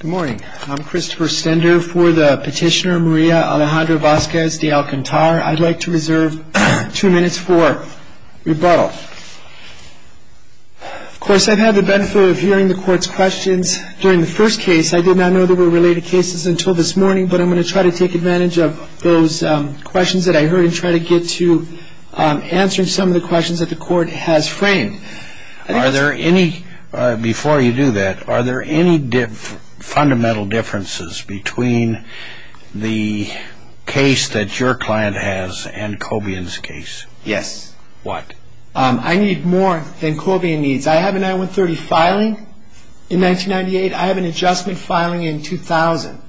Good morning. I'm Christopher Stender for the petitioner Maria Alejandra Vasquez De Alcantar. I'd like to reserve two minutes for rebuttal. Of course, I've had the benefit of hearing the Court's questions during the first case. I did not know they were related cases until this morning, but I'm going to try to take advantage of those questions that I heard and try to get to answering some of the questions that the Court has framed. Before you do that, are there any fundamental differences between the case that your client has and Cobian's case? Yes. What? I need more than Cobian needs. I have a 9-1-30 filing in 1998. I have an adjustment filing in 2000.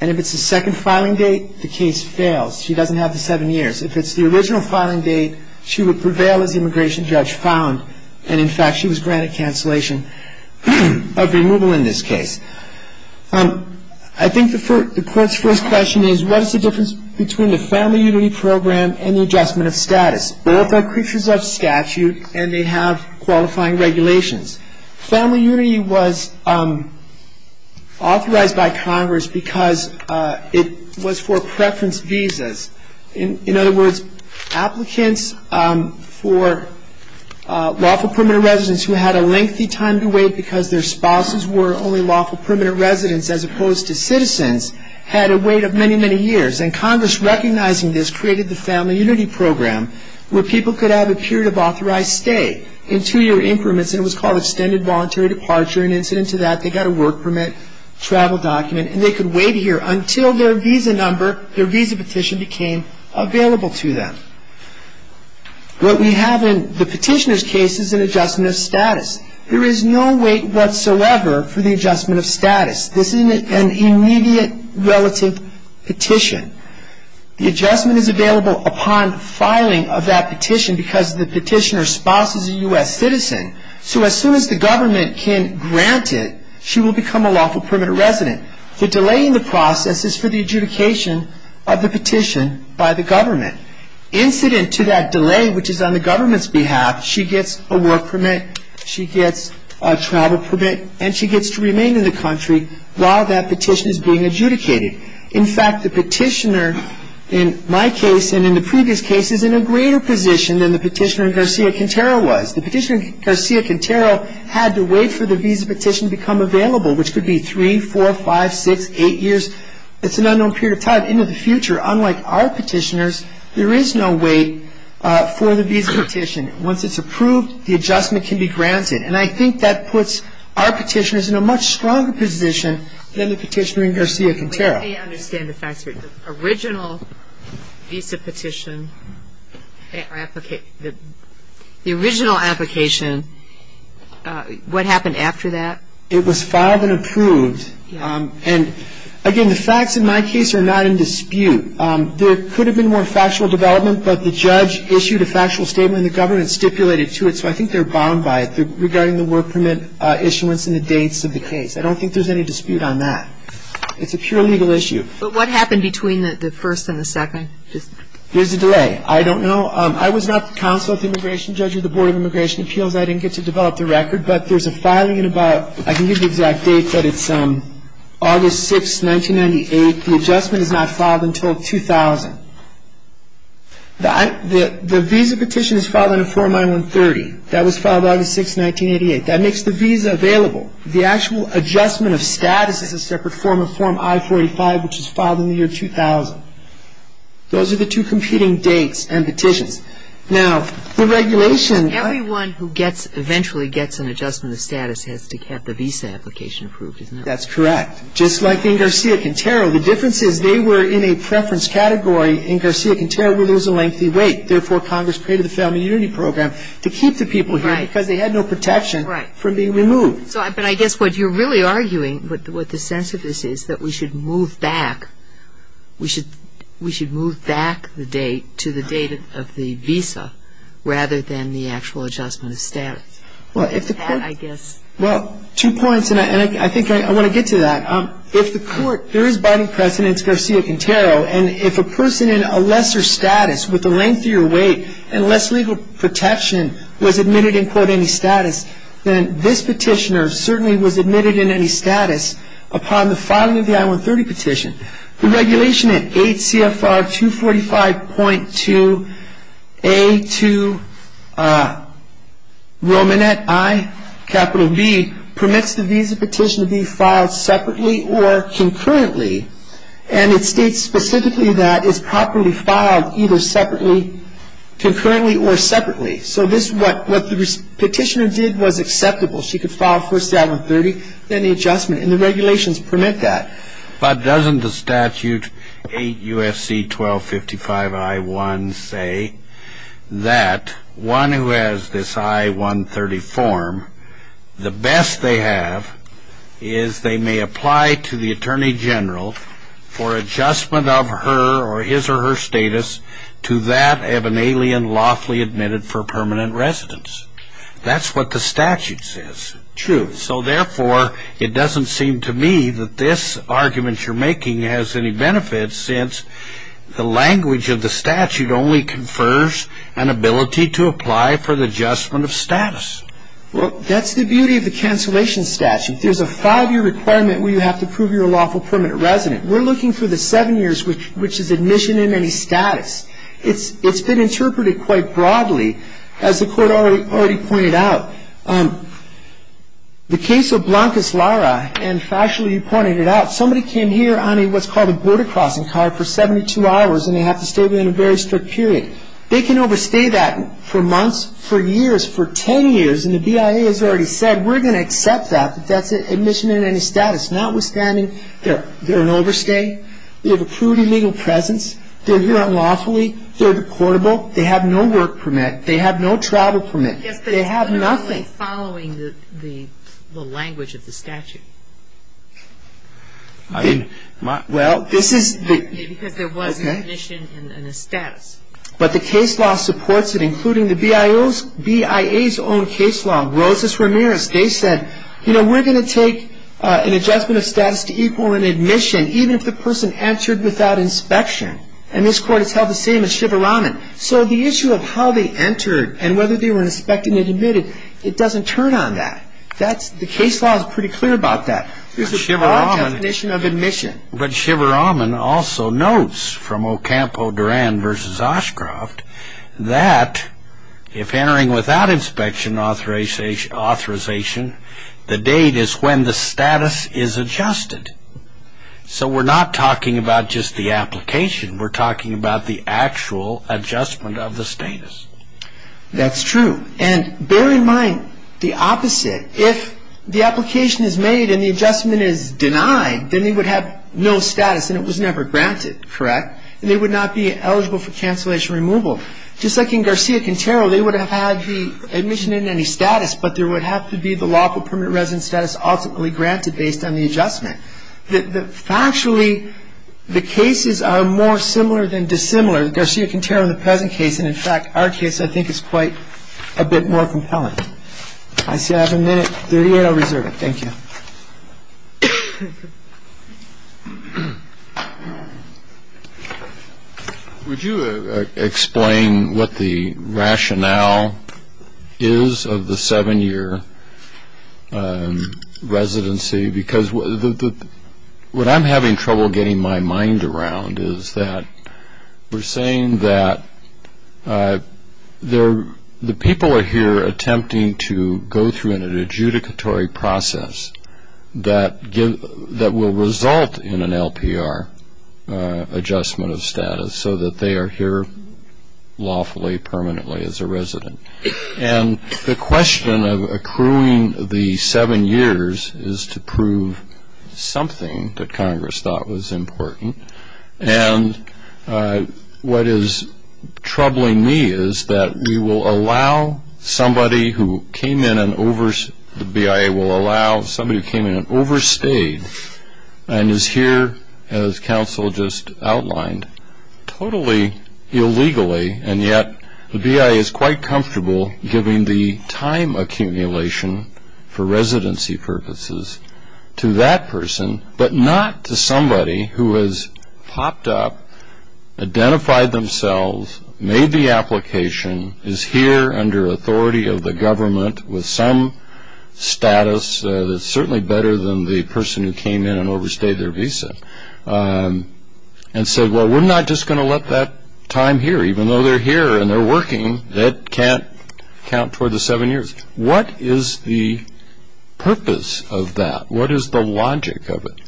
And if it's the second filing date, the case fails. She doesn't have the seven years. If it's the original filing date, she would prevail as the immigration judge found. And, in fact, she was granted cancellation of removal in this case. I think the Court's first question is, what is the difference between the Family Unity Program and the adjustment of status? Both are creatures of statute, and they have qualifying regulations. Family Unity was authorized by Congress because it was for preference visas. In other words, applicants for lawful permanent residence who had a lengthy time to wait because their spouses were only lawful permanent residents as opposed to citizens had a wait of many, many years. And Congress, recognizing this, created the Family Unity Program where people could have a period of authorized stay in two-year increments, and it was called extended voluntary departure. In incident to that, they got a work permit, travel document, and they could wait here until their visa petition became available to them. What we have in the petitioner's case is an adjustment of status. There is no wait whatsoever for the adjustment of status. This is an immediate relative petition. The adjustment is available upon filing of that petition So as soon as the government can grant it, she will become a lawful permanent resident. The delay in the process is for the adjudication of the petition by the government. Incident to that delay, which is on the government's behalf, she gets a work permit, she gets a travel permit, and she gets to remain in the country while that petition is being adjudicated. In fact, the petitioner in my case and in the previous cases is in a greater position than the petitioner in Garcia-Quintero was. The petitioner in Garcia-Quintero had to wait for the visa petition to become available, which could be 3, 4, 5, 6, 8 years. It's an unknown period of time. In the future, unlike our petitioners, there is no wait for the visa petition. Once it's approved, the adjustment can be granted. And I think that puts our petitioners in a much stronger position than the petitioner in Garcia-Quintero. Let me understand the facts here. The original visa petition, the original application, what happened after that? It was filed and approved. And again, the facts in my case are not in dispute. There could have been more factual development, but the judge issued a factual statement and the government stipulated to it, so I think they're bound by it regarding the work permit issuance and the dates of the case. I don't think there's any dispute on that. It's a pure legal issue. But what happened between the first and the second? There's a delay. I don't know. I was not the counsel of immigration, judge of the Board of Immigration Appeals. I didn't get to develop the record. But there's a filing in about, I can't give you the exact date, but it's August 6, 1998. The adjustment is not filed until 2000. The visa petition is filed in a form I-130. That was filed August 6, 1988. That makes the visa available. The actual adjustment of status is a separate form, a form I-45, which was filed in the year 2000. Those are the two competing dates and petitions. Now, the regulation. Everyone who gets, eventually gets an adjustment of status has to have the visa application approved, isn't it? That's correct. Just like in Garcia-Quintero, the difference is they were in a preference category. In Garcia-Quintero, we lose a lengthy wait. Therefore, Congress created the Family Unity Program to keep the people here because they had no protection from being removed. But I guess what you're really arguing with the sense of this is that we should move back. We should move back the date to the date of the visa rather than the actual adjustment of status. Well, two points, and I think I want to get to that. If the court, there is binding precedence, Garcia-Quintero, and if a person in a lesser status with a lengthier wait and less legal protection was admitted in, quote, any status, then this petitioner certainly was admitted in any status upon the filing of the I-130 petition. The regulation at 8 CFR 245.2A to Romanet I, capital B, permits the visa petition to be filed separately or concurrently, and it states specifically that it's properly filed either separately, concurrently, or separately. So what the petitioner did was acceptable. She could file first the I-130, then the adjustment, and the regulations permit that. But doesn't the statute 8 U.S.C. 1255 I-1 say that one who has this I-130 form, the best they have is they may apply to the attorney general for adjustment of her or his or her status to that of an alien lawfully admitted for permanent residence. That's what the statute says. True. So, therefore, it doesn't seem to me that this argument you're making has any benefit since the language of the statute only confers an ability to apply for the adjustment of status. Well, that's the beauty of the cancellation statute. There's a five-year requirement where you have to prove you're a lawful permanent resident. We're looking for the seven years, which is admission in any status. It's been interpreted quite broadly, as the Court already pointed out. The case of Blancas Lara, and, actually, you pointed it out, somebody came here on what's called a border crossing card for 72 hours, and they have to stay within a very strict period. They can overstay that for months, for years, for 10 years, and the BIA has already said, we're going to accept that, that that's admission in any status, notwithstanding they're an overstay, they have a prudent legal presence, they're here unlawfully, they're reportable, they have no work permit, they have no travel permit, they have nothing. Yes, but it's literally following the language of the statute. Well, this is the – Because there was an admission and a status. But the case law supports it, including the BIA's own case law. Rosas Ramirez, they said, you know, we're going to take an adjustment of status to equal an admission, even if the person entered without inspection. And this Court has held the same as Shivaraman. So the issue of how they entered and whether they were inspected and admitted, it doesn't turn on that. The case law is pretty clear about that. There's a broad definition of admission. But Shivaraman also notes from Ocampo-Durand v. Oshcroft that if entering without inspection authorization, the date is when the status is adjusted. So we're not talking about just the application. We're talking about the actual adjustment of the status. That's true. And bear in mind the opposite. If the application is made and the adjustment is denied, then they would have no status, and it was never granted, correct? And they would not be eligible for cancellation removal. Just like in Garcia-Quintero, they would have had the admission and any status, but there would have to be the lawful permanent residence status ultimately granted based on the adjustment. Factually, the cases are more similar than dissimilar, Garcia-Quintero and the present case. And, in fact, our case, I think, is quite a bit more compelling. I see I have a minute. Thirty-eight, I'll reserve it. Thank you. Would you explain what the rationale is of the seven-year residency? Because what I'm having trouble getting my mind around is that we're saying that the people are here attempting to go through an adjudicatory process that will result in an LPR adjustment of status so that they are here lawfully permanently as a resident. And the question of accruing the seven years is to prove something that Congress thought was important. And what is troubling me is that we will allow somebody who came in and overstayed and is here, as counsel just outlined, totally illegally, and yet the BIA is quite comfortable giving the time accumulation for residency purposes to that person, but not to somebody who has popped up, identified themselves, made the application, is here under authority of the government with some status that's certainly better than the person who came in and overstayed their visa and said, well, we're not just going to let that time here. Even though they're here and they're working, that can't count toward the seven years. What is the purpose of that? What is the logic of it?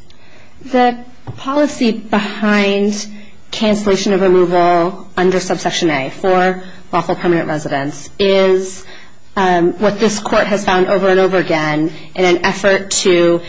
The policy behind cancellation of removal under subsection A for lawful permanent residence is what this court has found over and over again in an effort to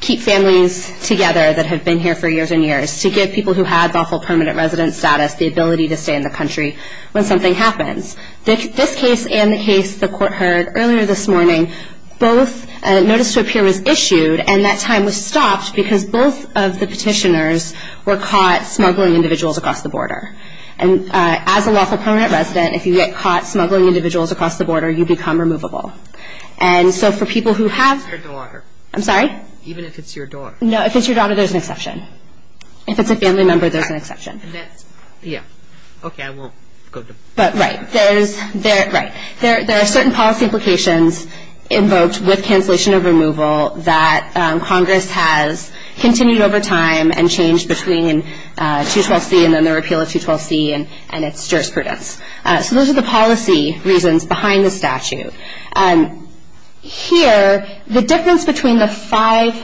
keep families together that have been here for years and years, to give people who have lawful permanent residence status the ability to stay in the country when something happens. This case and the case the court heard earlier this morning, both notice to appear was issued and that time was stopped because both of the petitioners were caught smuggling individuals across the border. And as a lawful permanent resident, if you get caught smuggling individuals across the border, you become removable. And so for people who have... Even if it's your daughter. I'm sorry? Even if it's your daughter. No, if it's your daughter, there's an exception. If it's a family member, there's an exception. And that's... Yeah. Okay, I won't go to... But right. There's... Right. There are certain policy implications invoked with cancellation of removal that Congress has continued over time and changed between 212C and then the repeal of 212C and its jurisprudence. So those are the policy reasons behind the statute. Here, the difference between the five...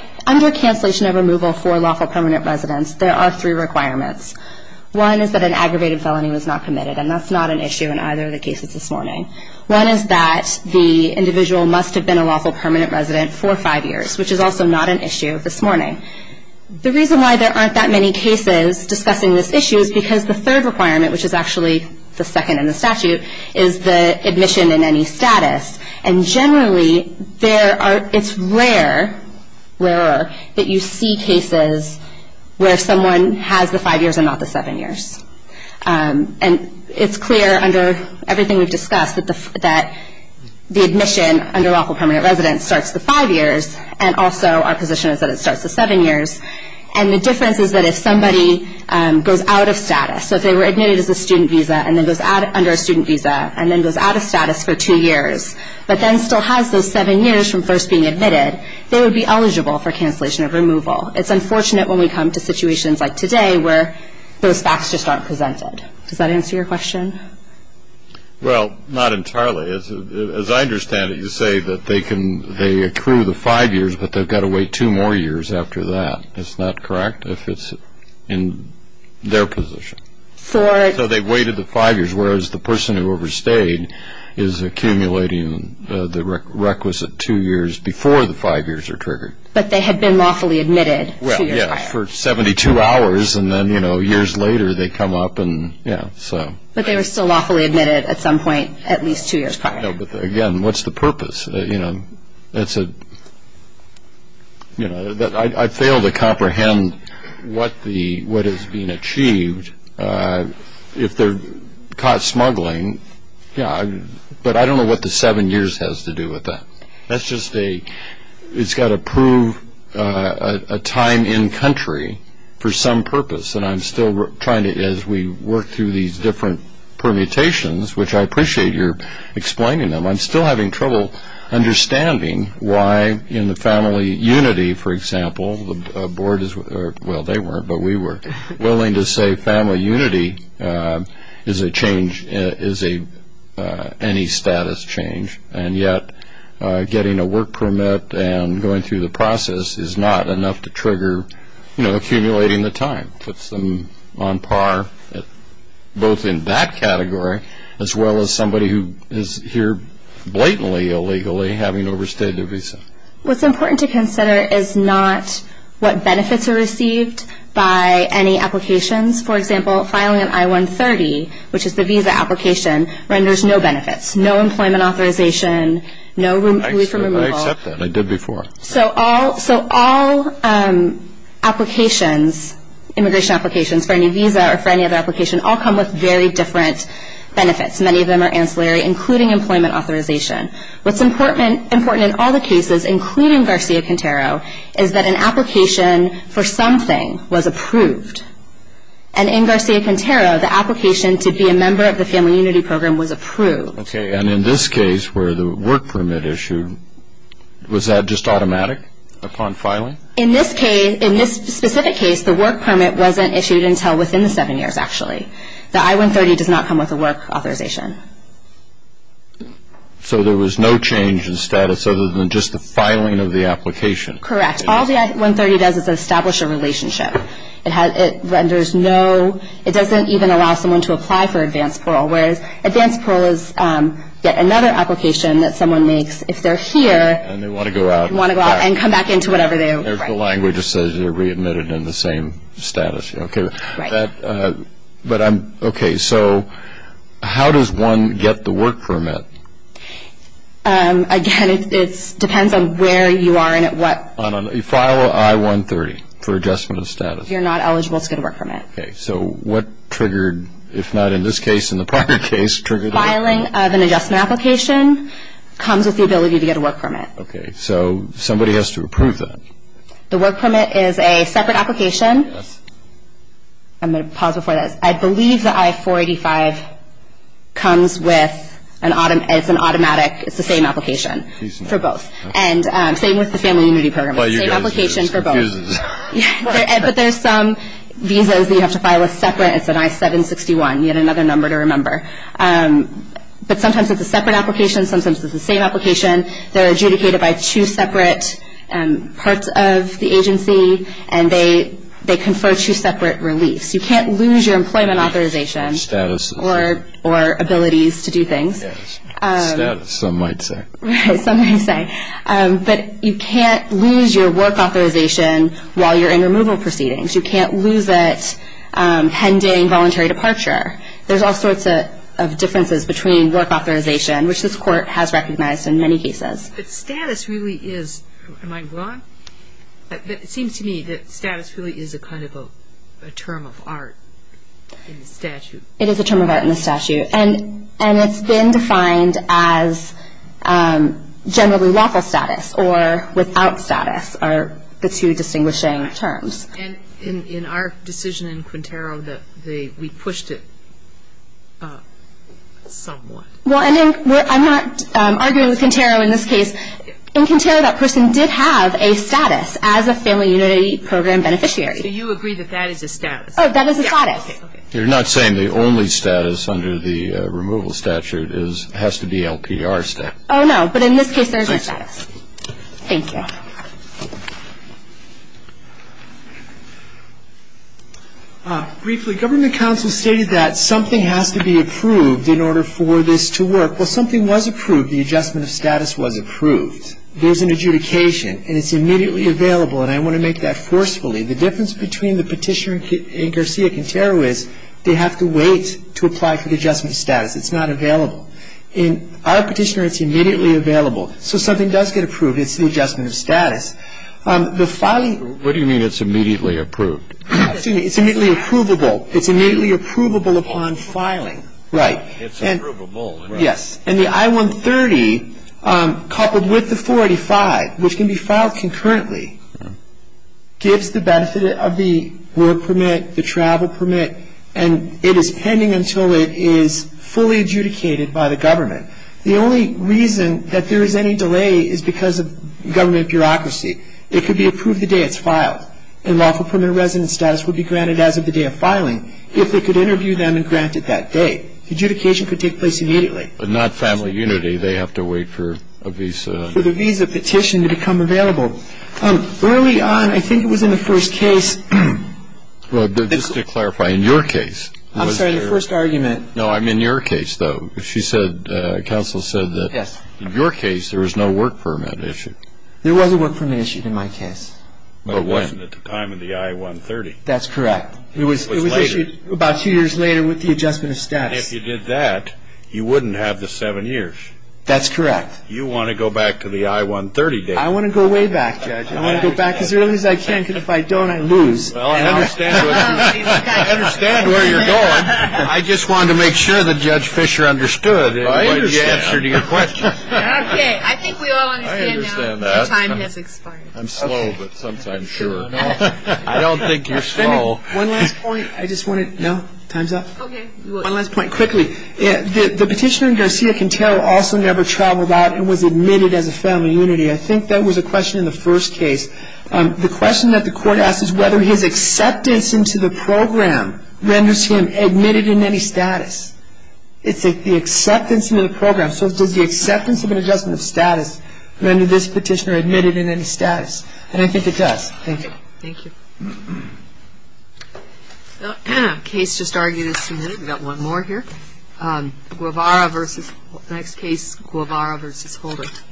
One is that an aggravated felony was not committed, and that's not an issue in either of the cases this morning. One is that the individual must have been a lawful permanent resident for five years, which is also not an issue this morning. The reason why there aren't that many cases discussing this issue is because the third requirement, which is actually the second in the statute, is the admission in any status. And generally, there are... It's rarer that you see cases where someone has the five years and not the seven years. And it's clear under everything we've discussed that the admission under lawful permanent residence starts the five years, and also our position is that it starts the seven years. And the difference is that if somebody goes out of status, so if they were admitted as a student visa and then goes out under a student visa and then goes out of status for two years but then still has those seven years from first being admitted, they would be eligible for cancellation of removal. It's unfortunate when we come to situations like today where those facts just aren't presented. Does that answer your question? Well, not entirely. As I understand it, you say that they can... They accrue the five years, but they've got to wait two more years after that. It's not correct if it's in their position. So they've waited the five years, whereas the person who overstayed is accumulating the requisite two years before the five years are triggered. But they had been lawfully admitted two years prior. Well, yeah, for 72 hours, and then, you know, years later they come up and, yeah, so... But they were still lawfully admitted at some point at least two years prior. I know, but again, what's the purpose? That's a... You know, I fail to comprehend what is being achieved. If they're caught smuggling, yeah, but I don't know what the seven years has to do with that. That's just a... It's got to prove a time in country for some purpose, and I'm still trying to, as we work through these different permutations, which I appreciate your explaining them, I'm still having trouble understanding why in the family unity, for example, the board is... Well, they weren't, but we were willing to say family unity is a change, is any status change, and yet getting a work permit and going through the process is not enough to trigger, you know, accumulating the time. It puts them on par both in that category as well as somebody who is here blatantly illegally having to overstay their visa. What's important to consider is not what benefits are received by any applications. For example, filing an I-130, which is the visa application, renders no benefits, no employment authorization, no room for removal. I accept that. I did before. So all applications, immigration applications for any visa or for any other application, all come with very different benefits. Many of them are ancillary, including employment authorization. What's important in all the cases, including Garcia-Quintero, is that an application for something was approved, and in Garcia-Quintero, the application to be a member of the family unity program was approved. Okay, and in this case where the work permit issued, was that just automatic upon filing? In this case, in this specific case, the work permit wasn't issued until within the seven years, actually. The I-130 does not come with a work authorization. So there was no change in status other than just the filing of the application? Correct. All the I-130 does is establish a relationship. It renders no, it doesn't even allow someone to apply for advanced parole, whereas advanced parole is yet another application that someone makes if they're here. And they want to go out. They want to go out and come back into whatever they are. There's the language that says they're readmitted in the same status. Okay. Right. But I'm, okay, so how does one get the work permit? Again, it depends on where you are and at what. You file an I-130 for adjustment of status. If you're not eligible to get a work permit. Okay. So what triggered, if not in this case, in the prior case, triggered the work permit? Filing of an adjustment application comes with the ability to get a work permit. Okay. So somebody has to approve that. The work permit is a separate application. Yes. I'm going to pause before this. I believe the I-485 comes with an automatic, it's the same application for both. And same with the Family Unity Program. It's the same application for both. Well, you guys are just confused. But there's some visas that you have to file separate. It's an I-761. Yet another number to remember. But sometimes it's a separate application. Sometimes it's the same application. They're adjudicated by two separate parts of the agency. And they confer two separate reliefs. You can't lose your employment authorization or abilities to do things. Status, some might say. Right, some might say. But you can't lose your work authorization while you're in removal proceedings. You can't lose it pending voluntary departure. There's all sorts of differences between work authorization, which this court has recognized in many cases. But status really is, am I wrong? It seems to me that status really is a kind of a term of art in the statute. It is a term of art in the statute. And it's been defined as generally lawful status or without status are the two distinguishing terms. And in our decision in Quintero, we pushed it somewhat. Well, I'm not arguing with Quintero in this case. In Quintero, that person did have a status as a Family Unity Program beneficiary. So you agree that that is a status? Oh, that is a status. You're not saying the only status under the removal statute has to be LPR status? Oh, no. But in this case, there is a status. Thank you. Briefly, government counsel stated that something has to be approved in order for this to work. Well, something was approved. The adjustment of status was approved. There's an adjudication, and it's immediately available. And I want to make that forcefully. The difference between the Petitioner and Garcia-Quintero is they have to wait to apply for the adjustment of status. It's not available. In our Petitioner, it's immediately available. So something does get approved. It's the adjustment of status. What do you mean it's immediately approved? It's immediately approvable. It's immediately approvable upon filing. Right. It's approvable. Yes. And the I-130, coupled with the 485, which can be filed concurrently, gives the benefit of the work permit, the travel permit, and it is pending until it is fully adjudicated by the government. The only reason that there is any delay is because of government bureaucracy. It could be approved the day it's filed, and lawful permanent residence status would be granted as of the day of filing if they could interview them and grant it that day. Adjudication could take place immediately. But not family unity. They have to wait for a visa. For the visa petition to become available. Early on, I think it was in the first case. Well, just to clarify, in your case. I'm sorry, the first argument. No, I'm in your case, though. She said, counsel said that in your case there was no work permit issued. There was a work permit issued in my case. But it wasn't at the time of the I-130. That's correct. It was issued about two years later with the adjustment of status. And if you did that, you wouldn't have the seven years. That's correct. You want to go back to the I-130 date. I want to go way back, Judge. I want to go back as early as I can, because if I don't, I lose. Well, I understand where you're going. I just wanted to make sure that Judge Fischer understood. I understand. And he answered your question. Okay. I think we all understand now. I understand that. The time has expired. I'm slow, but sometimes sure. I don't think you're slow. One last point. I just want to. No? Time's up? Okay. One last point. Quickly. The petitioner in Garcia-Quintero also never traveled out and was admitted as a family unity. I think that was a question in the first case. The question that the court asked is whether his acceptance into the program renders him admitted in any status. It's the acceptance into the program. So does the acceptance of an adjustment of status render this petitioner admitted in any status? And I think it does. Thank you. Thank you. The case just argued is submitted. We've got one more here. Guevara versus. Next case, Guevara versus Holdert.